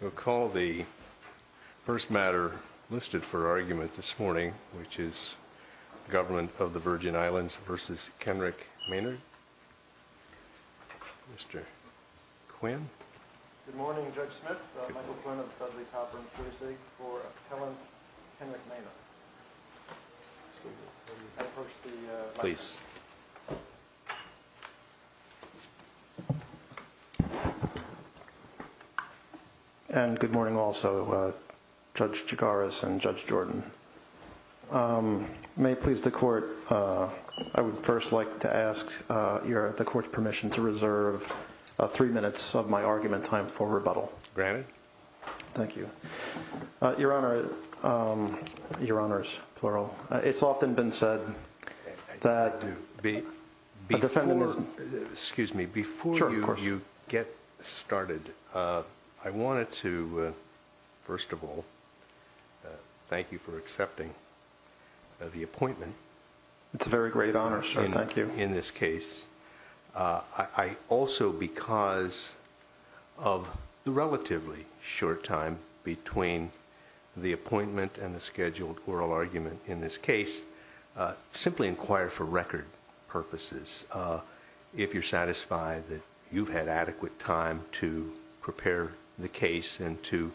We'll call the first matter listed for argument this morning, which is the Government of the Virgin Islands v. Kenrick Maynard. Mr. Quinn. Good morning, Judge Smith. Michael Quinn of the Catholic Conference of New Zealand for Appellant Kenrick Maynard. Excuse me. Please. And good morning also, Judge Chigaris and Judge Jordan. May it please the Court, I would first like to ask the Court's permission to reserve three minutes of my argument time for rebuttal. Granted. Thank you. Your Honor, your Honors, plural, it's often been said that... Excuse me. Before you get started, I wanted to, first of all, thank you for accepting the appointment. It's a very great honor, sir. Thank you. In this case. I also, because of the relatively short time between the appointment and the scheduled oral argument in this case, simply inquire for record purposes if you're satisfied that you've had adequate time to prepare the case and to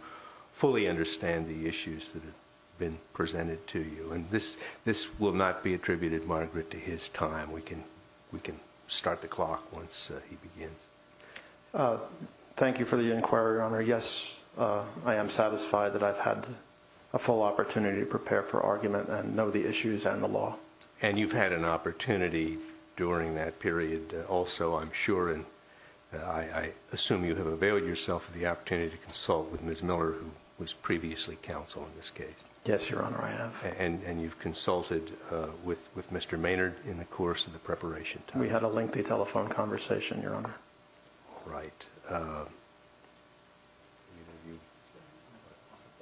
fully understand the issues that have been presented to you. And this will not be attributed, Margaret, to his time. We can start the clock once he begins. Thank you for the inquiry, your Honor. Yes, I am satisfied that I've had a full opportunity to prepare for argument and know the issues and the law. And you've had an opportunity during that period also, I'm sure, and I assume you have availed yourself of the opportunity to consult with Ms. Miller, who was previously counsel in this case. Yes, your Honor, I have. And you've consulted with Mr. Maynard in the course of the preparation time. We had a lengthy telephone conversation, your Honor.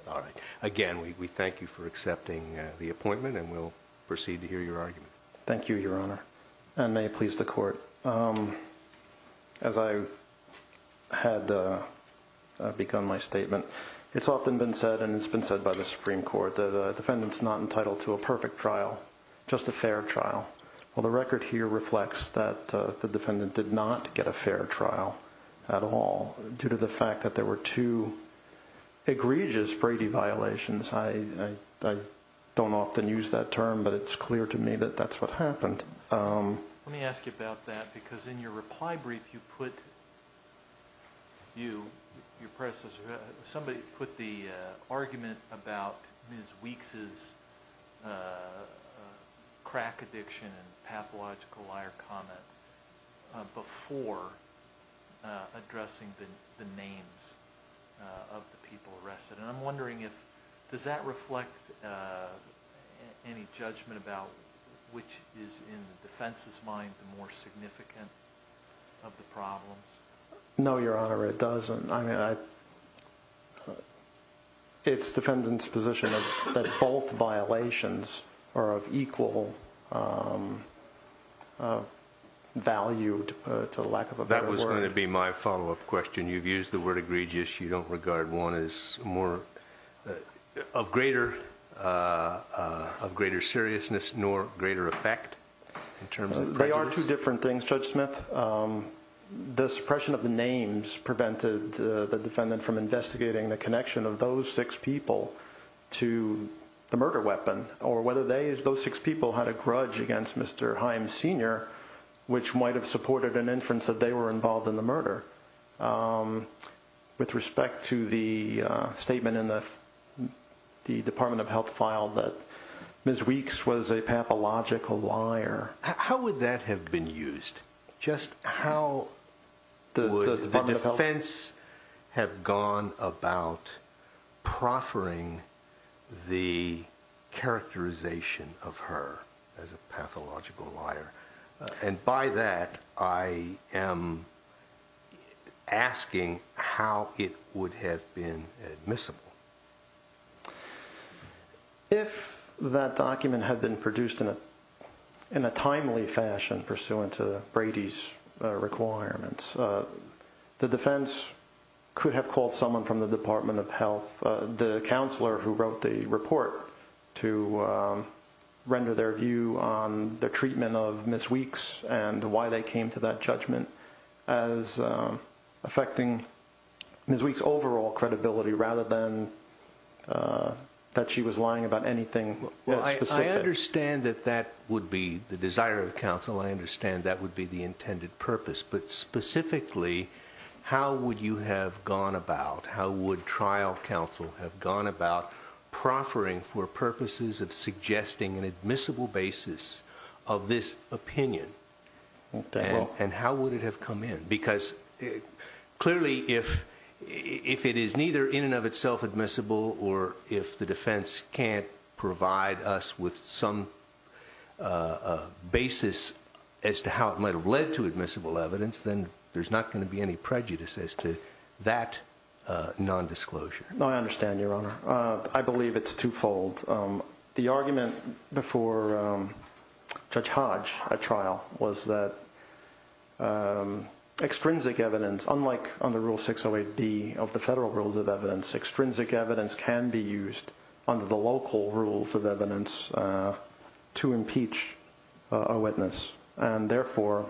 All right. Again, we thank you for accepting the appointment and we'll proceed to hear your argument. Thank you, your Honor. And may it please the court. As I had begun my statement, it's often been said, and it's been said by the Supreme Court, that a defendant's not entitled to a perfect trial, just a fair trial. Well, the record here reflects that the defendant did not get a fair trial at all due to the fact that there were two egregious Brady violations. I don't often use that term, but it's clear to me that that's what happened. Let me ask you about that, because in your reply brief you put, you, your predecessor, somebody put the argument about Ms. Weeks' crack addiction and pathological liar comment before addressing the names of the people arrested. And I'm wondering if, does that reflect any judgment about which is in the defense's mind the more significant of the problems? No, your Honor, it doesn't. I mean, it's the defendant's position that both violations are of equal value, to lack of a better word. That was going to be my follow-up question. You've used the word egregious. You don't regard one as more, of greater seriousness nor greater effect in terms of prejudice? They are two different things, Judge Smith. The suppression of the names prevented the defendant from investigating the connection of those six people to the murder weapon, or whether those six people had a grudge against Mr. Himes Sr., which might have supported an inference that they were involved in the murder. With respect to the statement in the Department of Health file that Ms. Weeks was a pathological liar. How would that have been used? Just how would the defense have gone about proffering the characterization of her as a pathological liar? And by that, I am asking how it would have been admissible. If that document had been produced in a timely fashion pursuant to Brady's requirements, the defense could have called someone from the Department of Health, the counselor who wrote the report, to render their view on the treatment of Ms. Weeks and why they came to that judgment as affecting Ms. Weeks' overall credibility rather than that she was lying about anything specific. I understand that that would be the desire of counsel. I understand that would be the intended purpose. But specifically, how would you have gone about, how would trial counsel have gone about proffering for purposes of suggesting an admissible basis of this opinion? And how would it have come in? Because clearly, if it is neither in and of itself admissible or if the defense can't provide us with some basis as to how it might have led to admissible evidence, then there's not going to be any prejudice as to that nondisclosure. No, I understand, Your Honor. I believe it's twofold. The argument before Judge Hodge at trial was that extrinsic evidence, unlike under Rule 608B of the federal rules of evidence, extrinsic evidence can be used under the local rules of evidence to impeach a witness. And therefore,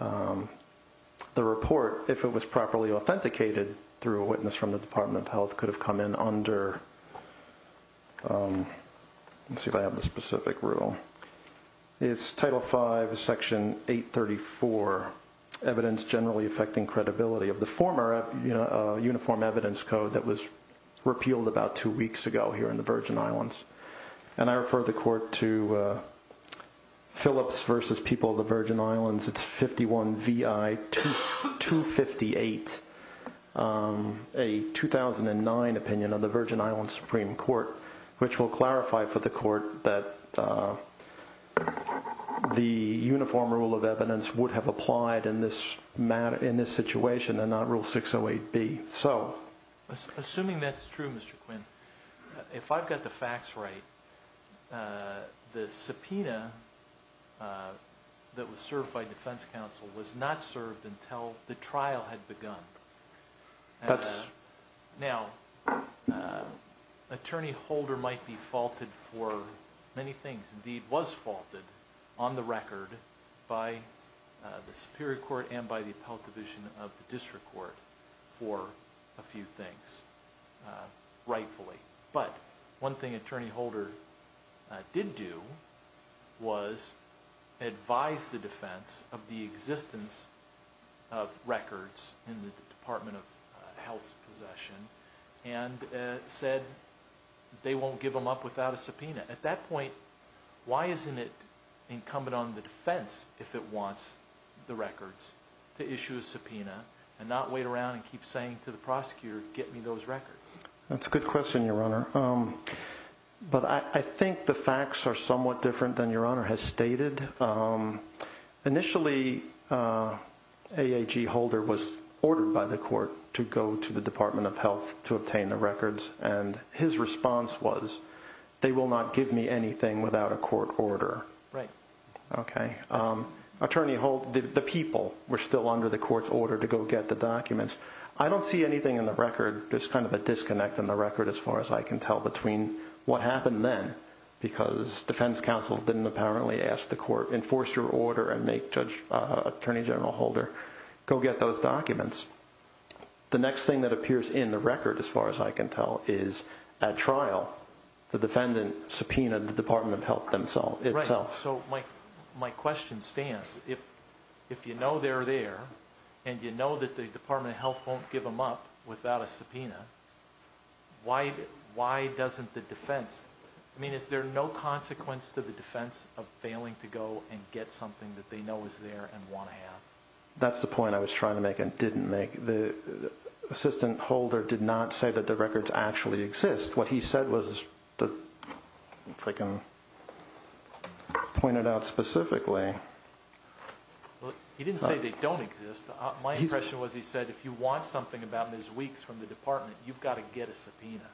the report, if it was properly authenticated through a witness from the Department of Health, could have come in under, let's see if I have the specific rule, it's Title V, Section 834, Evidence Generally Affecting Credibility of the former Uniform Evidence Code that was repealed about two weeks ago here in the Virgin Islands. And I refer the court to Phillips v. People of the Virgin Islands, it's 51 VI 258, a 2009 opinion of the Virgin Islands Supreme Court, which will clarify for the court that the uniform rule of evidence would have applied in this situation and not Rule 608B. Assuming that's true, Mr. Quinn, if I've got the facts right, the subpoena that was served by defense counsel was not served until the trial had begun. That's... And said they won't give them up without a subpoena. At that point, why isn't it incumbent on the defense, if it wants the records, to issue a subpoena and not wait around and keep saying to the prosecutor, get me those records? That's a good question, Your Honor. But I think the facts are somewhat different than Your Honor has stated. Initially, AAG Holder was ordered by the court to go to the Department of Health to obtain the records. And his response was, they will not give me anything without a court order. Right. Okay. Attorney Holder, the people were still under the court's order to go get the documents. I don't see anything in the record. There's kind of a disconnect in the record, as far as I can tell, between what happened then, because defense counsel didn't apparently ask the court, enforce your order and make Attorney General Holder go get those documents. The next thing that appears in the record, as far as I can tell, is at trial, the defendant subpoenaed the Department of Health itself. So my question stands. If you know they're there and you know that the Department of Health won't give them up without a subpoena, why doesn't the defense – I mean, is there no consequence to the defense of failing to go and get something that they know is there and want to have? That's the point I was trying to make and didn't make. The assistant holder did not say that the records actually exist. What he said was – if I can point it out specifically. He didn't say they don't exist. My impression was he said if you want something about Ms. Weeks from the department, you've got to get a subpoena.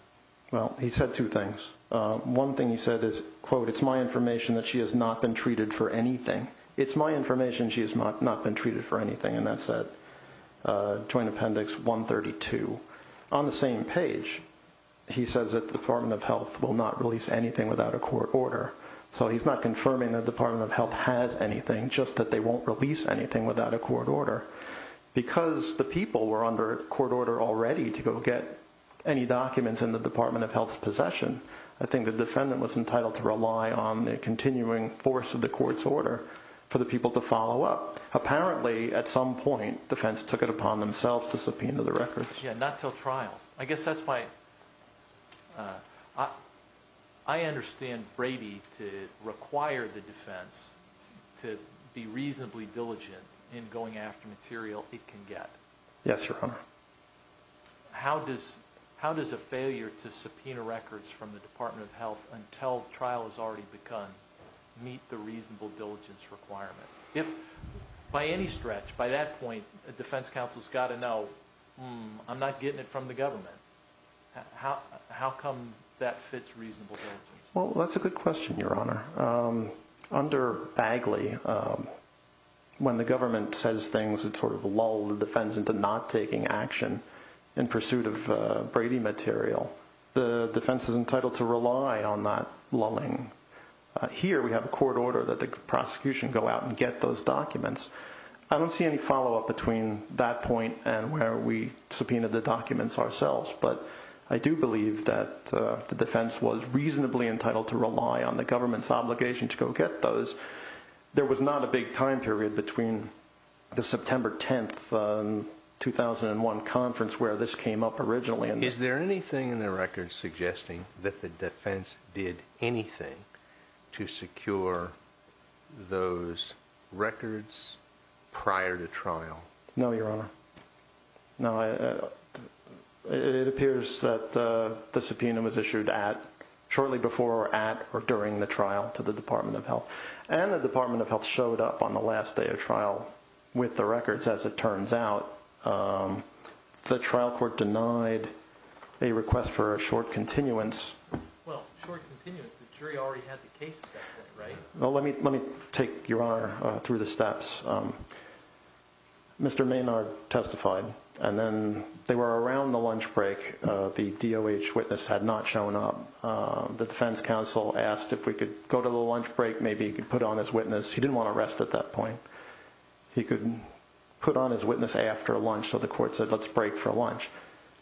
Well, he said two things. One thing he said is, quote, it's my information that she has not been treated for anything. It's my information she has not been treated for anything, and that's at Joint Appendix 132. On the same page, he says that the Department of Health will not release anything without a court order. So he's not confirming the Department of Health has anything, just that they won't release anything without a court order. Because the people were under court order already to go get any documents in the Department of Health's possession, I think the defendant was entitled to rely on the continuing force of the court's order for the people to follow up. Apparently, at some point, defense took it upon themselves to subpoena the records. Yeah, not till trial. I guess that's my – I understand Brady to require the defense to be reasonably diligent in going after material it can get. Yes, Your Honor. How does a failure to subpoena records from the Department of Health until trial has already begun meet the reasonable diligence requirement? If by any stretch, by that point, a defense counsel has got to know, hmm, I'm not getting it from the government, how come that fits reasonable diligence? Well, that's a good question, Your Honor. Under Bagley, when the government says things that sort of lull the defense into not taking action in pursuit of Brady material, the defense is entitled to rely on that lulling. Here, we have a court order that the prosecution go out and get those documents. I don't see any follow-up between that point and where we subpoenaed the documents ourselves. But I do believe that the defense was reasonably entitled to rely on the government's obligation to go get those. There was not a big time period between the September 10, 2001, conference where this came up originally. Is there anything in the records suggesting that the defense did anything to secure those records prior to trial? No, Your Honor. No, it appears that the subpoena was issued at, shortly before, at, or during the trial to the Department of Health. And the Department of Health showed up on the last day of trial with the records, as it turns out. The trial court denied a request for a short continuance. Well, short continuance, the jury already had the case accepted, right? Well, let me take, Your Honor, through the steps. Mr. Maynard testified, and then they were around the lunch break. The DOH witness had not shown up. The defense counsel asked if we could go to the lunch break, maybe he could put on his witness. He didn't want to rest at that point. He couldn't put on his witness after lunch, so the court said, let's break for lunch.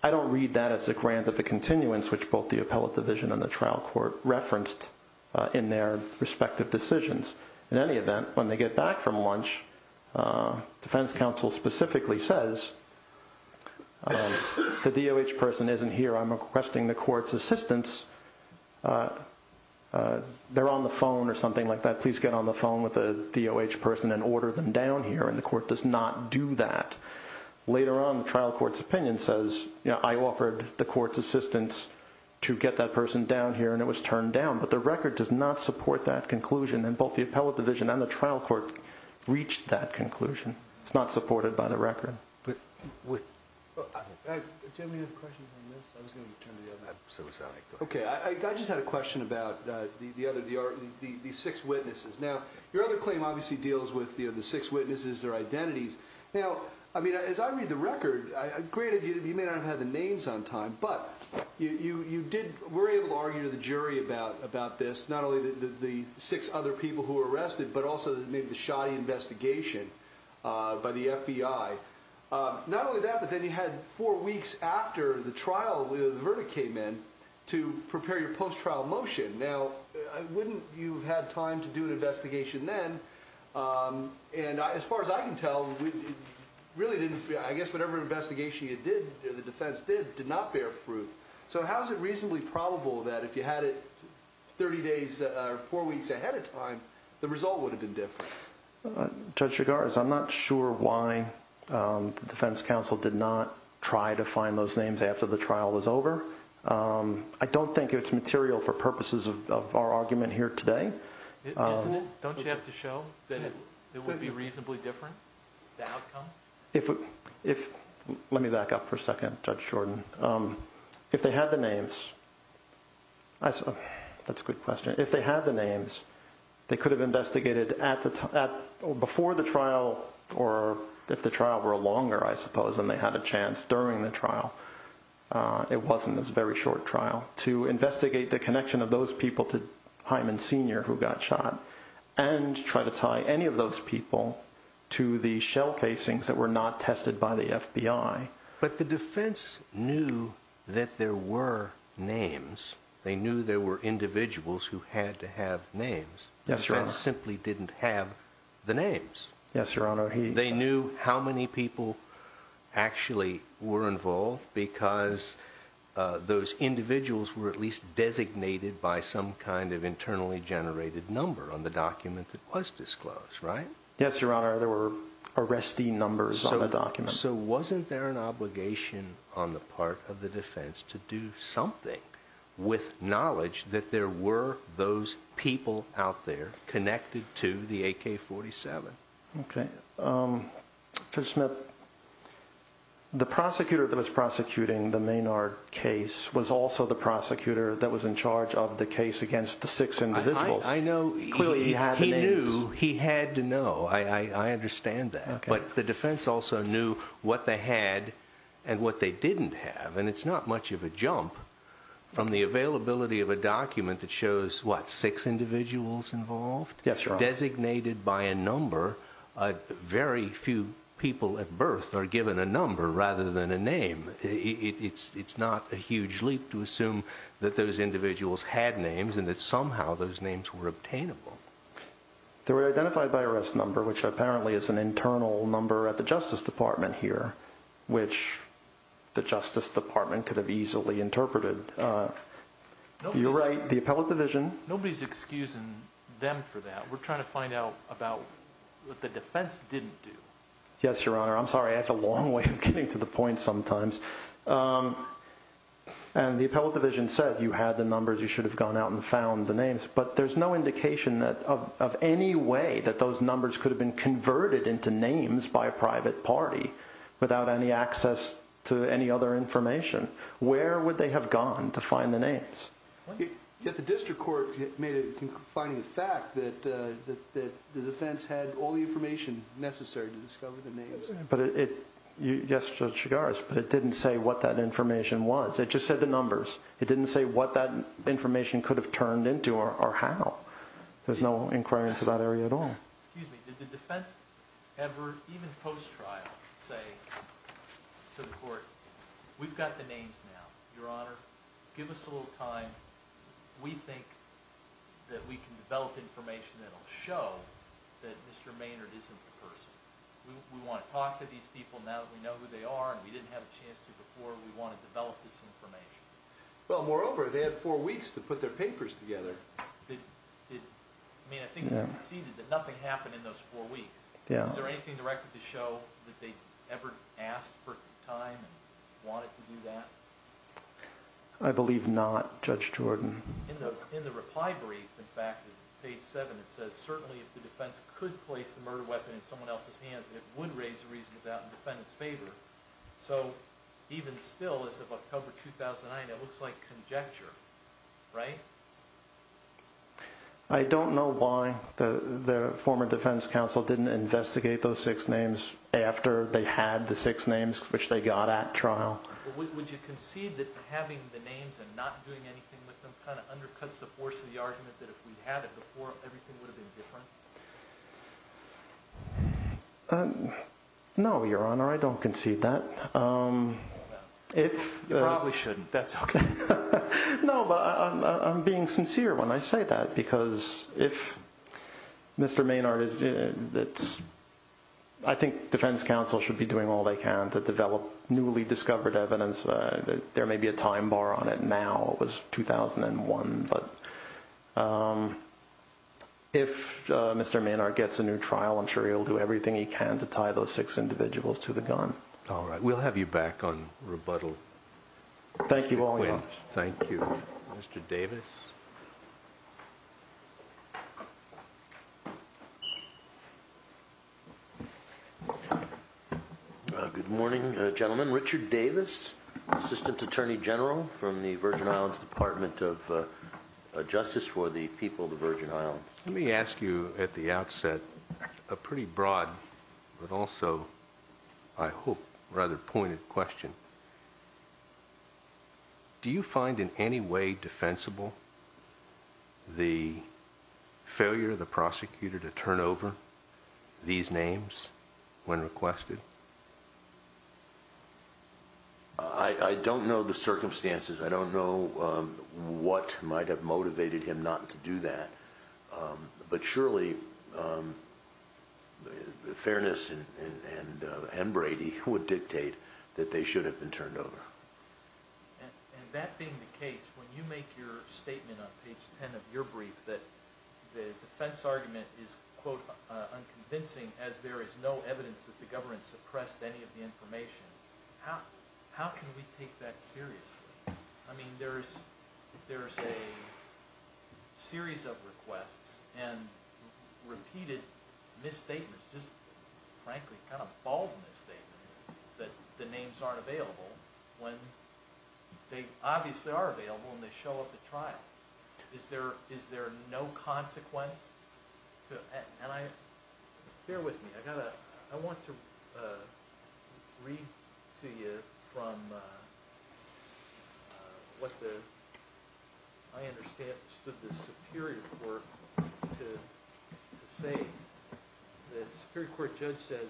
I don't read that as a grant of a continuance, which both the appellate division and the trial court referenced in their respective decisions. In any event, when they get back from lunch, defense counsel specifically says, the DOH person isn't here, I'm requesting the court's assistance. They're on the phone or something like that. Please get on the phone with the DOH person and order them down here, and the court does not do that. Later on, the trial court's opinion says, I offered the court's assistance to get that person down here, and it was turned down. But the record does not support that conclusion, and both the appellate division and the trial court reached that conclusion. It's not supported by the record. Do you have any other questions on this? I just had a question about the six witnesses. Now, your other claim obviously deals with the six witnesses, their identities. Now, as I read the record, granted, you may not have had the names on time, but you were able to argue to the jury about this, not only the six other people who were arrested, but also maybe the shoddy investigation by the FBI. Not only that, but then you had four weeks after the verdict came in to prepare your post-trial motion. Now, wouldn't you have had time to do an investigation then? And as far as I can tell, I guess whatever investigation you did, the defense did, did not bear fruit. So how is it reasonably probable that if you had it 30 days or four weeks ahead of time, the result would have been different? Judge Chigars, I'm not sure why the defense counsel did not try to find those names after the trial was over. I don't think it's material for purposes of our argument here today. Isn't it? Don't you have to show that it would be reasonably different, the outcome? Let me back up for a second, Judge Jordan. If they had the names, that's a good question. If they had the names, they could have investigated before the trial or if the trial were longer, I suppose, and they had a chance during the trial. It wasn't. It was a very short trial to investigate the connection of those people to Hyman Sr. who got shot and try to tie any of those people to the shell casings that were not tested by the FBI. But the defense knew that there were names. They knew there were individuals who had to have names. Yes, Your Honor. The defense simply didn't have the names. Yes, Your Honor. They knew how many people actually were involved because those individuals were at least designated by some kind of internally generated number on the document that was disclosed, right? Yes, Your Honor. There were arrestee numbers on the document. So wasn't there an obligation on the part of the defense to do something with knowledge that there were those people out there connected to the AK-47? Okay. Judge Smith, the prosecutor that was prosecuting the Maynard case was also the prosecutor that was in charge of the case against the six individuals. I know. Clearly, he had the names. He knew. He had to know. I understand that. Okay. But the defense also knew what they had and what they didn't have. And it's not much of a jump from the availability of a document that shows, what, six individuals involved? Yes, Your Honor. Designated by a number. Very few people at birth are given a number rather than a name. It's not a huge leap to assume that those individuals had names and that somehow those names were obtainable. They were identified by arrest number, which apparently is an internal number at the Justice Department here, which the Justice Department could have easily interpreted. You're right. The appellate division... Nobody's excusing them for that. We're trying to find out about what the defense didn't do. Yes, Your Honor. I'm sorry. I have a long way of getting to the point sometimes. And the appellate division said, you had the numbers. You should have gone out and found the names. But there's no indication of any way that those numbers could have been converted into names by a private party without any access to any other information. Where would they have gone to find the names? The district court made a finding of fact that the defense had all the information necessary to discover the names. Yes, Judge Chigars, but it didn't say what that information was. It just said the numbers. It didn't say what that information could have turned into or how. There's no inquiries to that area at all. Excuse me. Did the defense ever, even post-trial, say to the court, we've got the names now, Your Honor. Give us a little time. We think that we can develop information that will show that Mr. Maynard isn't the person. We want to talk to these people now that we know who they are and we didn't have a chance to before. We want to develop this information. Well, moreover, they had four weeks to put their papers together. I mean, I think it's conceded that nothing happened in those four weeks. Is there anything in the record to show that they ever asked for time and wanted to do that? I believe not, Judge Jordan. In the reply brief, in fact, page seven, it says, certainly if the defense could place the murder weapon in someone else's hands, it would raise the reason about the defendant's favor. So even still, as of October 2009, it looks like conjecture, right? I don't know why the former defense counsel didn't investigate those six names after they had the six names which they got at trial. Would you concede that having the names and not doing anything with them kind of undercuts the force of the argument that if we had it before, everything would have been different? No, Your Honor, I don't concede that. You probably shouldn't. That's okay. No, but I'm being sincere when I say that because if Mr. Maynard is – I think defense counsel should be doing all they can to develop newly discovered evidence. There may be a time bar on it now. It was 2001. But if Mr. Maynard gets a new trial, I'm sure he'll do everything he can to tie those six individuals to the gun. All right. We'll have you back on rebuttal. Thank you all very much. Thank you. Mr. Davis. Good morning, gentlemen. Richard Davis, Assistant Attorney General from the Virgin Islands Department of Justice for the people of the Virgin Islands. Let me ask you at the outset a pretty broad but also, I hope, rather pointed question. Do you find in any way defensible the failure of the prosecutor to turn over these names when requested? I don't know the circumstances. I don't know what might have motivated him not to do that. But surely, fairness and Brady would dictate that they should have been turned over. And that being the case, when you make your statement on page 10 of your brief that the defense argument is, quote, unconvincing as there is no evidence that the government suppressed any of the information, how can we take that seriously? I mean, there's a series of requests and repeated misstatements, just frankly, kind of bald misstatements, that the names aren't available when they obviously are available and they show up at trial. Is there no consequence? And bear with me. I want to read to you from what I understand stood the Superior Court to say The Superior Court judge says,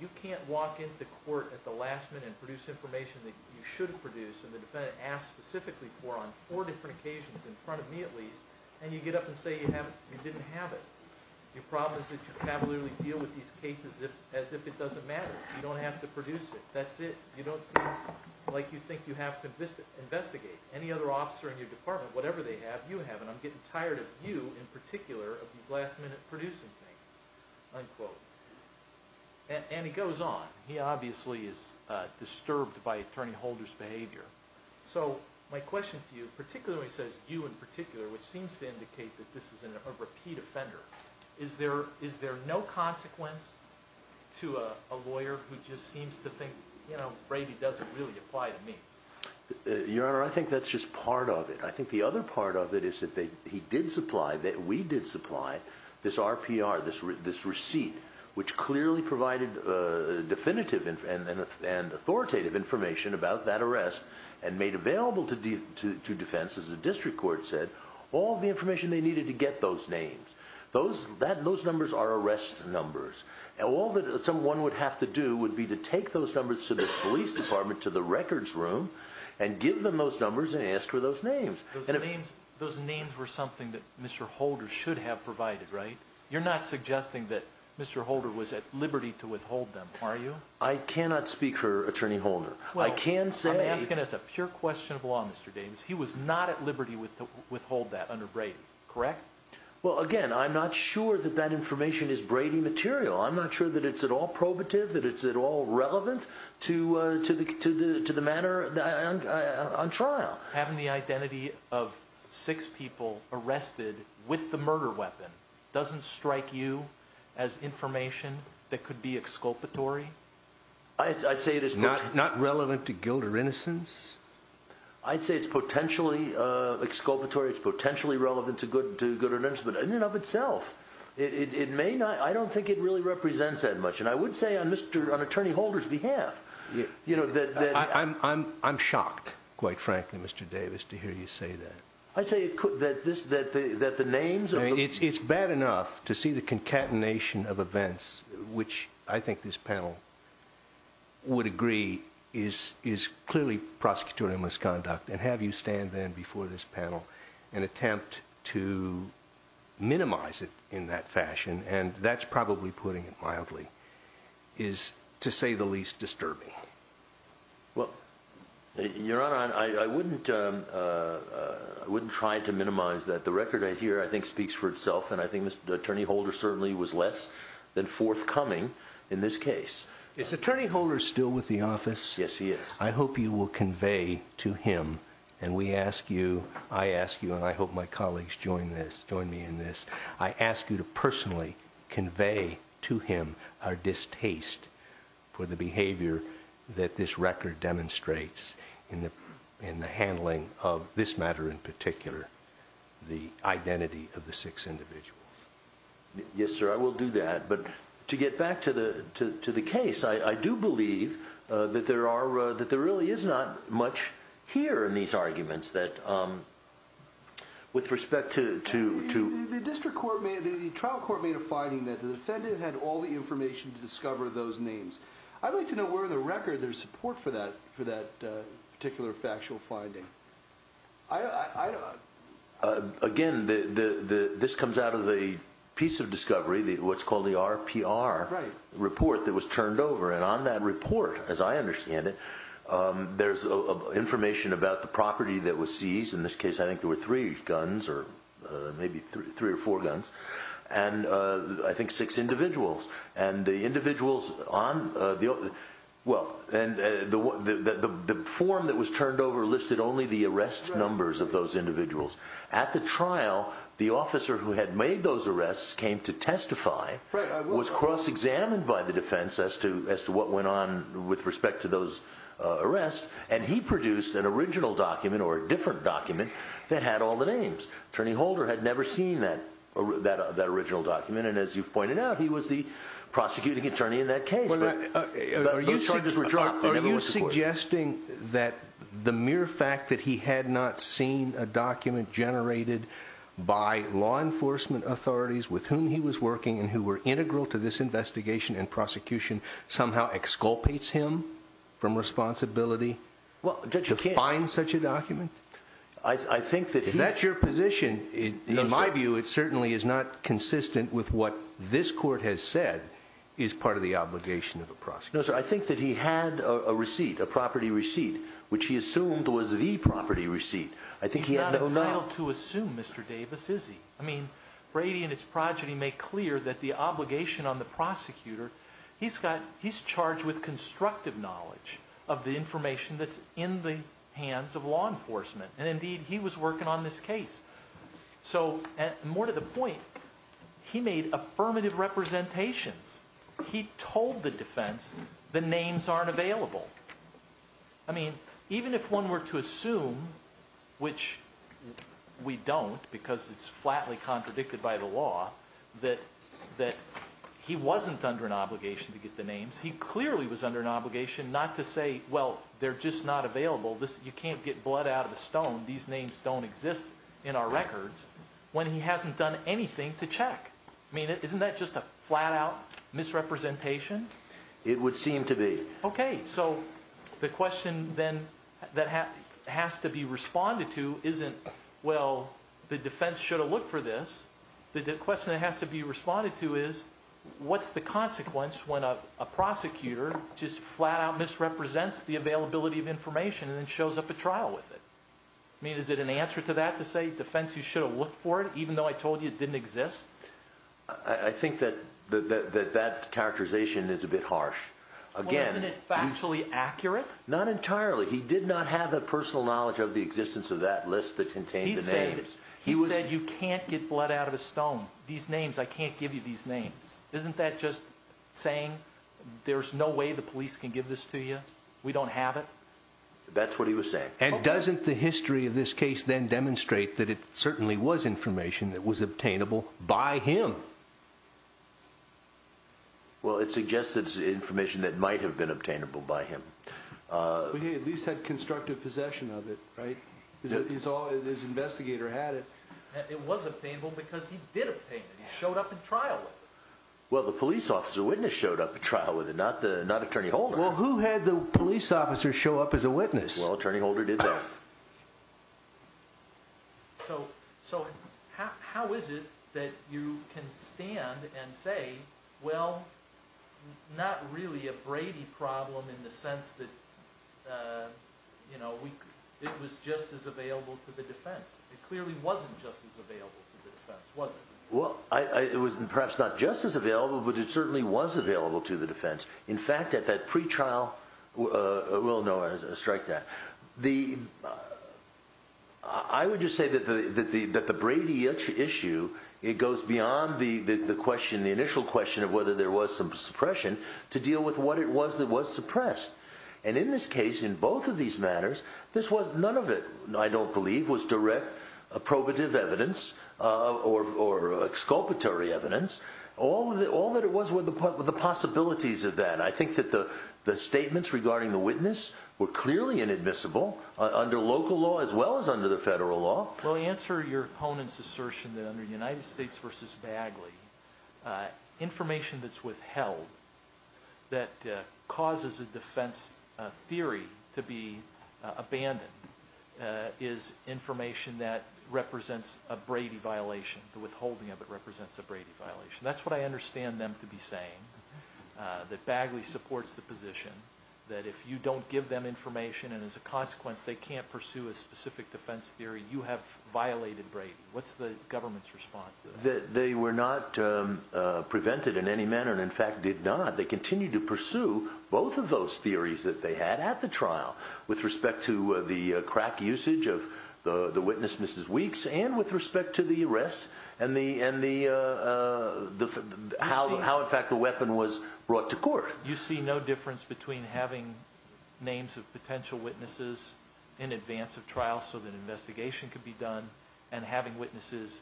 you can't walk into court at the last minute and produce information that you should have produced and the defendant asked specifically for on four different occasions, in front of me at least, and you get up and say you didn't have it. Your problem is that you cavalierly deal with these cases as if it doesn't matter. You don't have to produce it. That's it. You don't seem like you think you have to investigate. Any other officer in your department, whatever they have, you have. And I'm getting tired of you, in particular, of these last-minute producing things, unquote. And he goes on. He obviously is disturbed by attorney holders' behavior. So my question to you, particularly when he says you in particular, which seems to indicate that this is a repeat offender, is there no consequence to a lawyer who just seems to think, you know, Brady doesn't really apply to me? Your Honor, I think that's just part of it. I think the other part of it is that he did supply, that we did supply, this RPR, this receipt, which clearly provided definitive and authoritative information about that arrest and made available to defense, as the district court said, all the information they needed to get those names. Those numbers are arrest numbers. All that someone would have to do would be to take those numbers to the police department, to the records room, and give them those numbers and ask for those names. Those names were something that Mr. Holder should have provided, right? You're not suggesting that Mr. Holder was at liberty to withhold them, are you? I cannot speak for Attorney Holder. I can say— Well, I'm asking as a pure question of law, Mr. Davis. He was not at liberty to withhold that under Brady, correct? Well, again, I'm not sure that that information is Brady material. I'm not sure that it's at all probative, that it's at all relevant to the manner on trial. Having the identity of six people arrested with the murder weapon doesn't strike you as information that could be exculpatory? I'd say it is— Not relevant to guilt or innocence? I'd say it's potentially exculpatory. It's potentially relevant to good or innocence, in and of itself. It may not—I don't think it really represents that much. And I would say on Attorney Holder's behalf, you know, that— I'm shocked, quite frankly, Mr. Davis, to hear you say that. I'd say that the names— It's bad enough to see the concatenation of events, which I think this panel would agree is clearly prosecutorial misconduct, and have you stand then before this panel and attempt to minimize it in that fashion—and that's probably putting it mildly—is, to say the least, disturbing. Well, Your Honor, I wouldn't try to minimize that. The record I hear, I think, speaks for itself, and I think Attorney Holder certainly was less than forthcoming in this case. Is Attorney Holder still with the office? Yes, he is. I hope you will convey to him—and we ask you, I ask you, and I hope my colleagues join me in this— I ask you to personally convey to him our distaste for the behavior that this record demonstrates in the handling of this matter in particular, the identity of the six individuals. Yes, sir, I will do that. But to get back to the case, I do believe that there are—that there really is not much here in these arguments that—with respect to— The district court made—the trial court made a finding that the defendant had all the information to discover those names. I'd like to know where in the record there's support for that particular factual finding. Again, this comes out of a piece of discovery, what's called the RPR report that was turned over, and on that report, as I understand it, there's information about the property that was seized. In this case, I think there were three guns or maybe three or four guns, and I think six individuals. And the individuals on—well, and the form that was turned over listed only the arrest numbers of those individuals. At the trial, the officer who had made those arrests came to testify, was cross-examined by the defense as to what went on with respect to those arrests, and he produced an original document or a different document that had all the names. Attorney Holder had never seen that original document, and as you've pointed out, he was the prosecuting attorney in that case, but those charges were dropped. Are you suggesting that the mere fact that he had not seen a document generated by law enforcement authorities with whom he was working and who were integral to this investigation and prosecution somehow exculpates him from responsibility to find such a document? If that's your position, in my view, it certainly is not consistent with what this court has said is part of the obligation of a prosecutor. No, sir, I think that he had a receipt, a property receipt, which he assumed was the property receipt. He's not entitled to assume, Mr. Davis, is he? I mean, Brady and his progeny make clear that the obligation on the prosecutor, he's charged with constructive knowledge of the information that's in the hands of law enforcement, and indeed, he was working on this case. So, more to the point, he made affirmative representations. He told the defense the names aren't available. I mean, even if one were to assume, which we don't because it's flatly contradicted by the law, that he wasn't under an obligation to get the names. He clearly was under an obligation not to say, well, they're just not available. You can't get blood out of the stone. These names don't exist in our records when he hasn't done anything to check. I mean, isn't that just a flat-out misrepresentation? It would seem to be. Okay, so the question then that has to be responded to isn't, well, the defense should have looked for this. The question that has to be responded to is, what's the consequence when a prosecutor just flat-out misrepresents the availability of information and then shows up at trial with it? I mean, is it an answer to that to say, defense, you should have looked for it, even though I told you it didn't exist? I think that that characterization is a bit harsh. Well, isn't it factually accurate? Not entirely. He did not have the personal knowledge of the existence of that list that contained the names. He said you can't get blood out of a stone. These names, I can't give you these names. Isn't that just saying there's no way the police can give this to you? We don't have it? That's what he was saying. And doesn't the history of this case then demonstrate that it certainly was information that was obtainable by him? Well, it suggests that it's information that might have been obtainable by him. But he at least had constructive possession of it, right? His investigator had it. It was obtainable because he did obtain it. He showed up at trial with it. Well, the police officer witness showed up at trial with it, not Attorney Holder. Well, who had the police officer show up as a witness? Well, Attorney Holder did that. So how is it that you can stand and say, well, not really a Brady problem in the sense that it was just as available to the defense? It clearly wasn't just as available to the defense, was it? Well, it was perhaps not just as available, but it certainly was available to the defense. In fact, at that pretrial, well, no, I strike that. I would just say that the Brady issue, it goes beyond the initial question of whether there was some suppression to deal with what it was that was suppressed. And in this case, in both of these matters, none of it, I don't believe, was direct probative evidence or exculpatory evidence. All that it was were the possibilities of that. I think that the statements regarding the witness were clearly inadmissible under local law as well as under the federal law. Well, answer your opponent's assertion that under United States v. Bagley, information that's withheld that causes a defense theory to be abandoned is information that represents a Brady violation. The withholding of it represents a Brady violation. That's what I understand them to be saying, that Bagley supports the position that if you don't give them information, and as a consequence they can't pursue a specific defense theory, you have violated Brady. What's the government's response to that? They were not prevented in any manner, and in fact did not. They continued to pursue both of those theories that they had at the trial with respect to the crack usage of the witness, Mrs. Weeks, and with respect to the arrest and how in fact the weapon was brought to court. You see no difference between having names of potential witnesses in advance of trial so that investigation could be done and having witnesses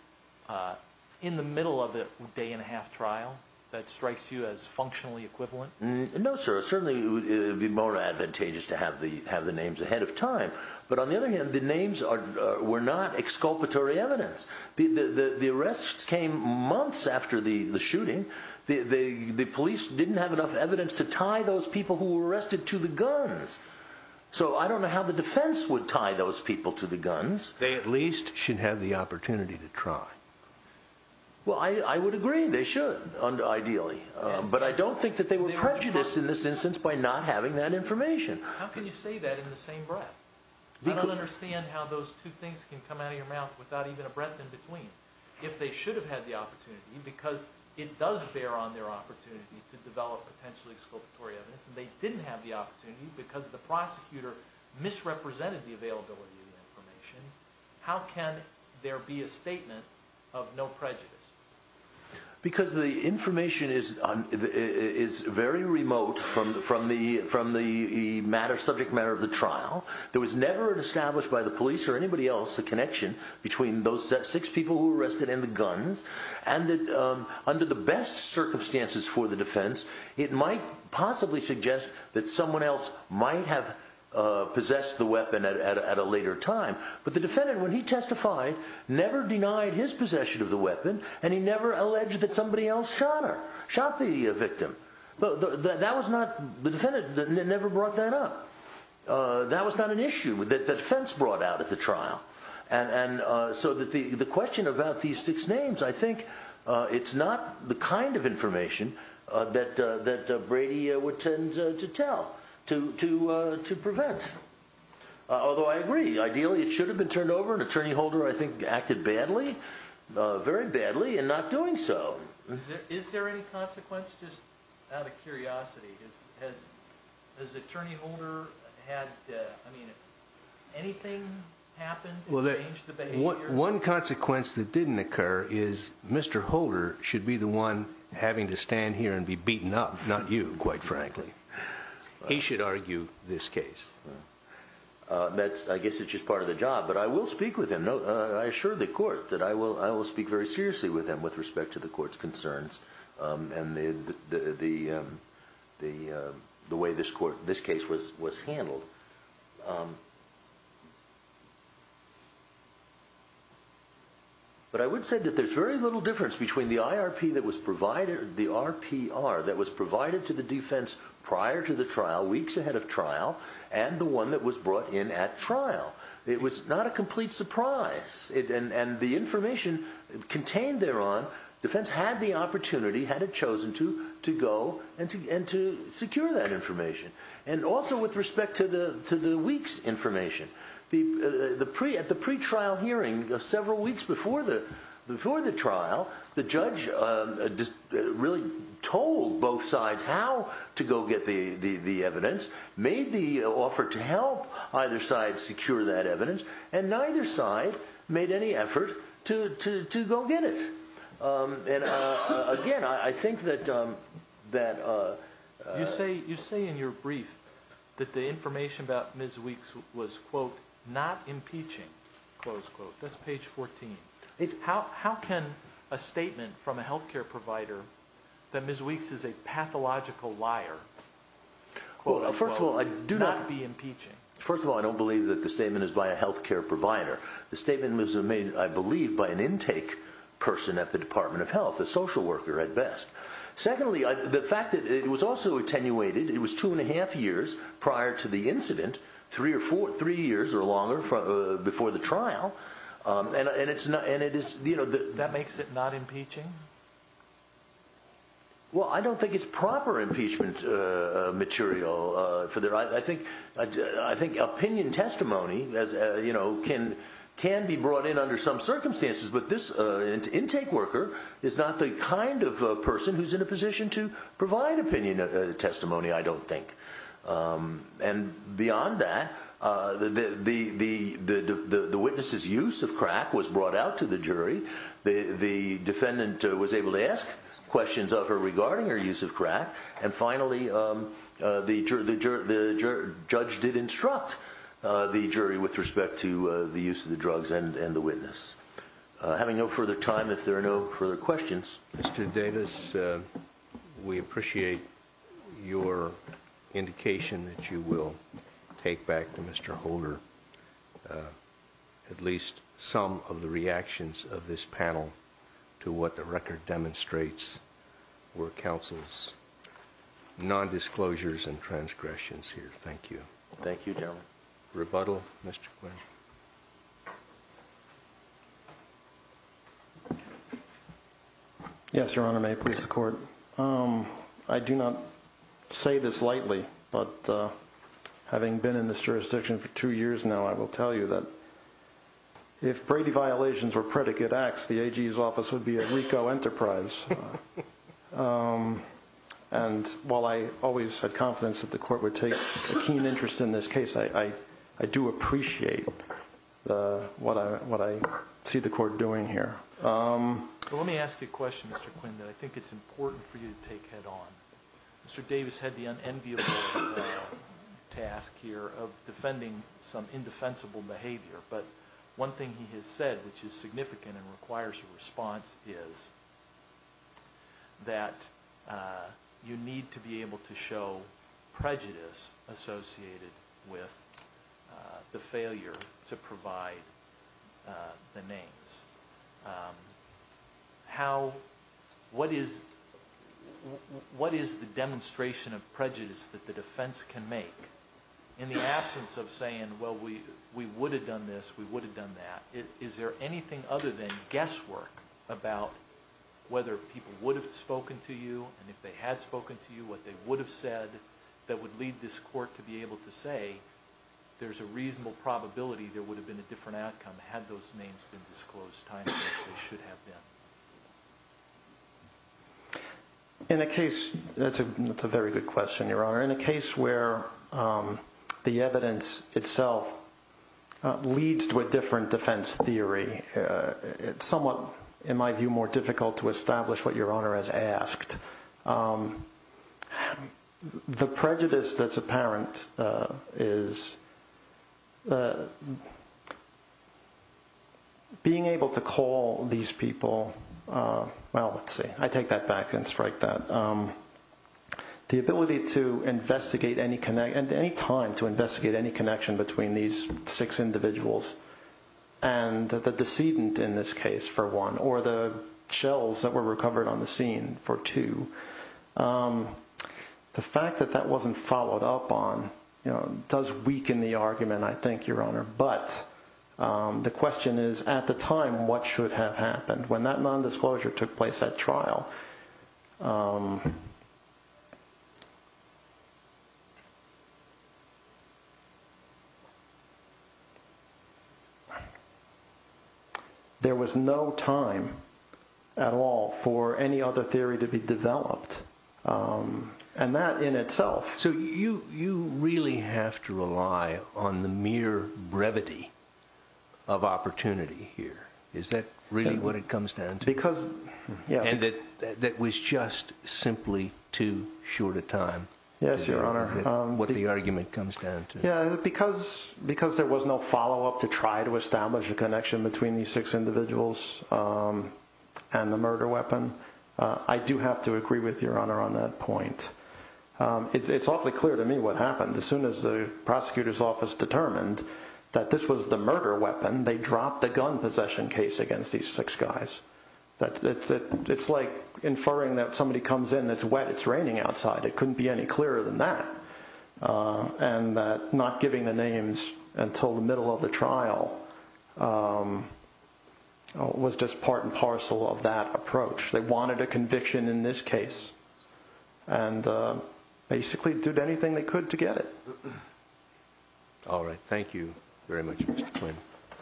in the middle of a day and a half trial? That strikes you as functionally equivalent? No, sir. Certainly it would be more advantageous to have the names ahead of time. But on the other hand, the names were not exculpatory evidence. The arrests came months after the shooting. The police didn't have enough evidence to tie those people who were arrested to the guns. So I don't know how the defense would tie those people to the guns. They at least should have the opportunity to try. Well, I would agree they should, ideally. But I don't think that they were prejudiced in this instance by not having that information. How can you say that in the same breath? I don't understand how those two things can come out of your mouth without even a breath in between. If they should have had the opportunity, because it does bear on their opportunity to develop potentially exculpatory evidence, and they didn't have the opportunity because the prosecutor misrepresented the availability of the information, how can there be a statement of no prejudice? Because the information is very remote from the subject matter of the trial. There was never established by the police or anybody else the connection between those six people who were arrested and the guns. And under the best circumstances for the defense, it might possibly suggest that someone else might have possessed the weapon at a later time. But the defendant, when he testified, never denied his possession of the weapon, and he never alleged that somebody else shot her, shot the victim. The defendant never brought that up. That was not an issue that the defense brought out at the trial. And so the question about these six names, I think it's not the kind of information that Brady would tend to tell to prevent. Although I agree, ideally it should have been turned over. An attorney holder, I think, acted badly, very badly, in not doing so. Is there any consequence? Just out of curiosity, has attorney holder had anything happen to change the behavior? One consequence that didn't occur is Mr. Holder should be the one having to stand here and be beaten up, not you, quite frankly. He should argue this case. I guess it's just part of the job, but I will speak with him. The way this case was handled. But I would say that there's very little difference between the IRP that was provided, the RPR, that was provided to the defense prior to the trial, weeks ahead of trial, and the one that was brought in at trial. It was not a complete surprise. And the information contained thereon, defense had the opportunity, had it chosen to, to go and to secure that information. And also with respect to the week's information. At the pre-trial hearing, several weeks before the trial, the judge really told both sides how to go get the evidence, made the offer to help either side secure that evidence, and neither side made any effort to, to, to go get it. And again, I think that, that you say, you say in your brief that the information about Ms. Weeks was quote, not impeaching. Close quote. That's page 14. How, how can a statement from a healthcare provider that Ms. Weeks is a pathological liar? Well, first of all, I do not. Not be impeaching. First of all, I don't believe that the statement is by a healthcare provider. The statement was made, I believe, by an intake person at the Department of Health, a social worker at best. Secondly, the fact that it was also attenuated, it was two and a half years prior to the incident, three or four, three years or longer before the trial. And it's not, and it is, you know. That makes it not impeaching? Well, I don't think it's proper impeachment material for their, I think, I think opinion testimony as, you know, can, can be brought in under some circumstances. But this intake worker is not the kind of person who's in a position to provide opinion testimony, I don't think. And beyond that, the, the, the, the, the witness's use of crack was brought out to the jury. The defendant was able to ask questions of her regarding her use of crack. And finally, the judge did instruct the jury with respect to the use of the drugs and the witness. Having no further time, if there are no further questions. Mr. Davis, we appreciate your indication that you will take back to Mr. Holder. At least some of the reactions of this panel to what the record demonstrates were counsel's nondisclosures and transgressions here. Thank you. Thank you. Rebuttal. Yes, Your Honor, may I please support. I do not say this lightly, but having been in this jurisdiction for two years now, I will tell you that. If Brady violations were predicate acts, the agency's office would be a Rico enterprise. And while I always had confidence that the court would take a keen interest in this case, I, I, I do appreciate what I, what I see the court doing here. Let me ask you a question. I think it's important for you to take head on. Mr. Davis had the unenviable task here of defending some indefensible behavior. But one thing he has said, which is significant and requires a response, is that you need to be able to show prejudice associated with the failure to provide the names. How, what is, what is the demonstration of prejudice that the defense can make in the absence of saying, well, we, we would have done this, we would have done that. Is there anything other than guesswork about whether people would have spoken to you and if they had spoken to you, what they would have said that would lead this court to be able to say, there's a reasonable probability there would have been a different outcome had those names been disclosed. Should have been. In a case, that's a, that's a very good question, Your Honor. In a case where the evidence itself leads to a different defense theory, it's somewhat, in my view, more difficult to establish what Your Honor has asked. The prejudice that's apparent is being able to call these people, well, let's see, I take that back and strike that. The ability to investigate any, at any time, to investigate any connection between these six individuals and the decedent in this case, for one, or the shells that were recovered on the scene, for two. The fact that that wasn't followed up on does weaken the argument, I think, Your Honor. But the question is, at the time, what should have happened when that nondisclosure took place at trial? There was no time at all for any other theory to be developed. And that in itself. So you, you really have to rely on the mere brevity of opportunity here. Is that really what it comes down to? Because, yeah. And that, that was just simply too short a time. Yes, Your Honor. What the argument comes down to. Yeah, because, because there was no follow up to try to establish a connection between these six individuals and the murder weapon, I do have to agree with Your Honor on that point. It's awfully clear to me what happened. As soon as the prosecutor's office determined that this was the murder weapon, they dropped the gun possession case against these six guys. It's like inferring that somebody comes in, it's wet, it's raining outside. It couldn't be any clearer than that. And not giving the names until the middle of the trial was just part and parcel of that approach. They wanted a conviction in this case and basically did anything they could to get it. All right. Thank you very much.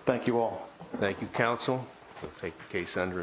Thank you all. Thank you, counsel. We'll take the case under advisement.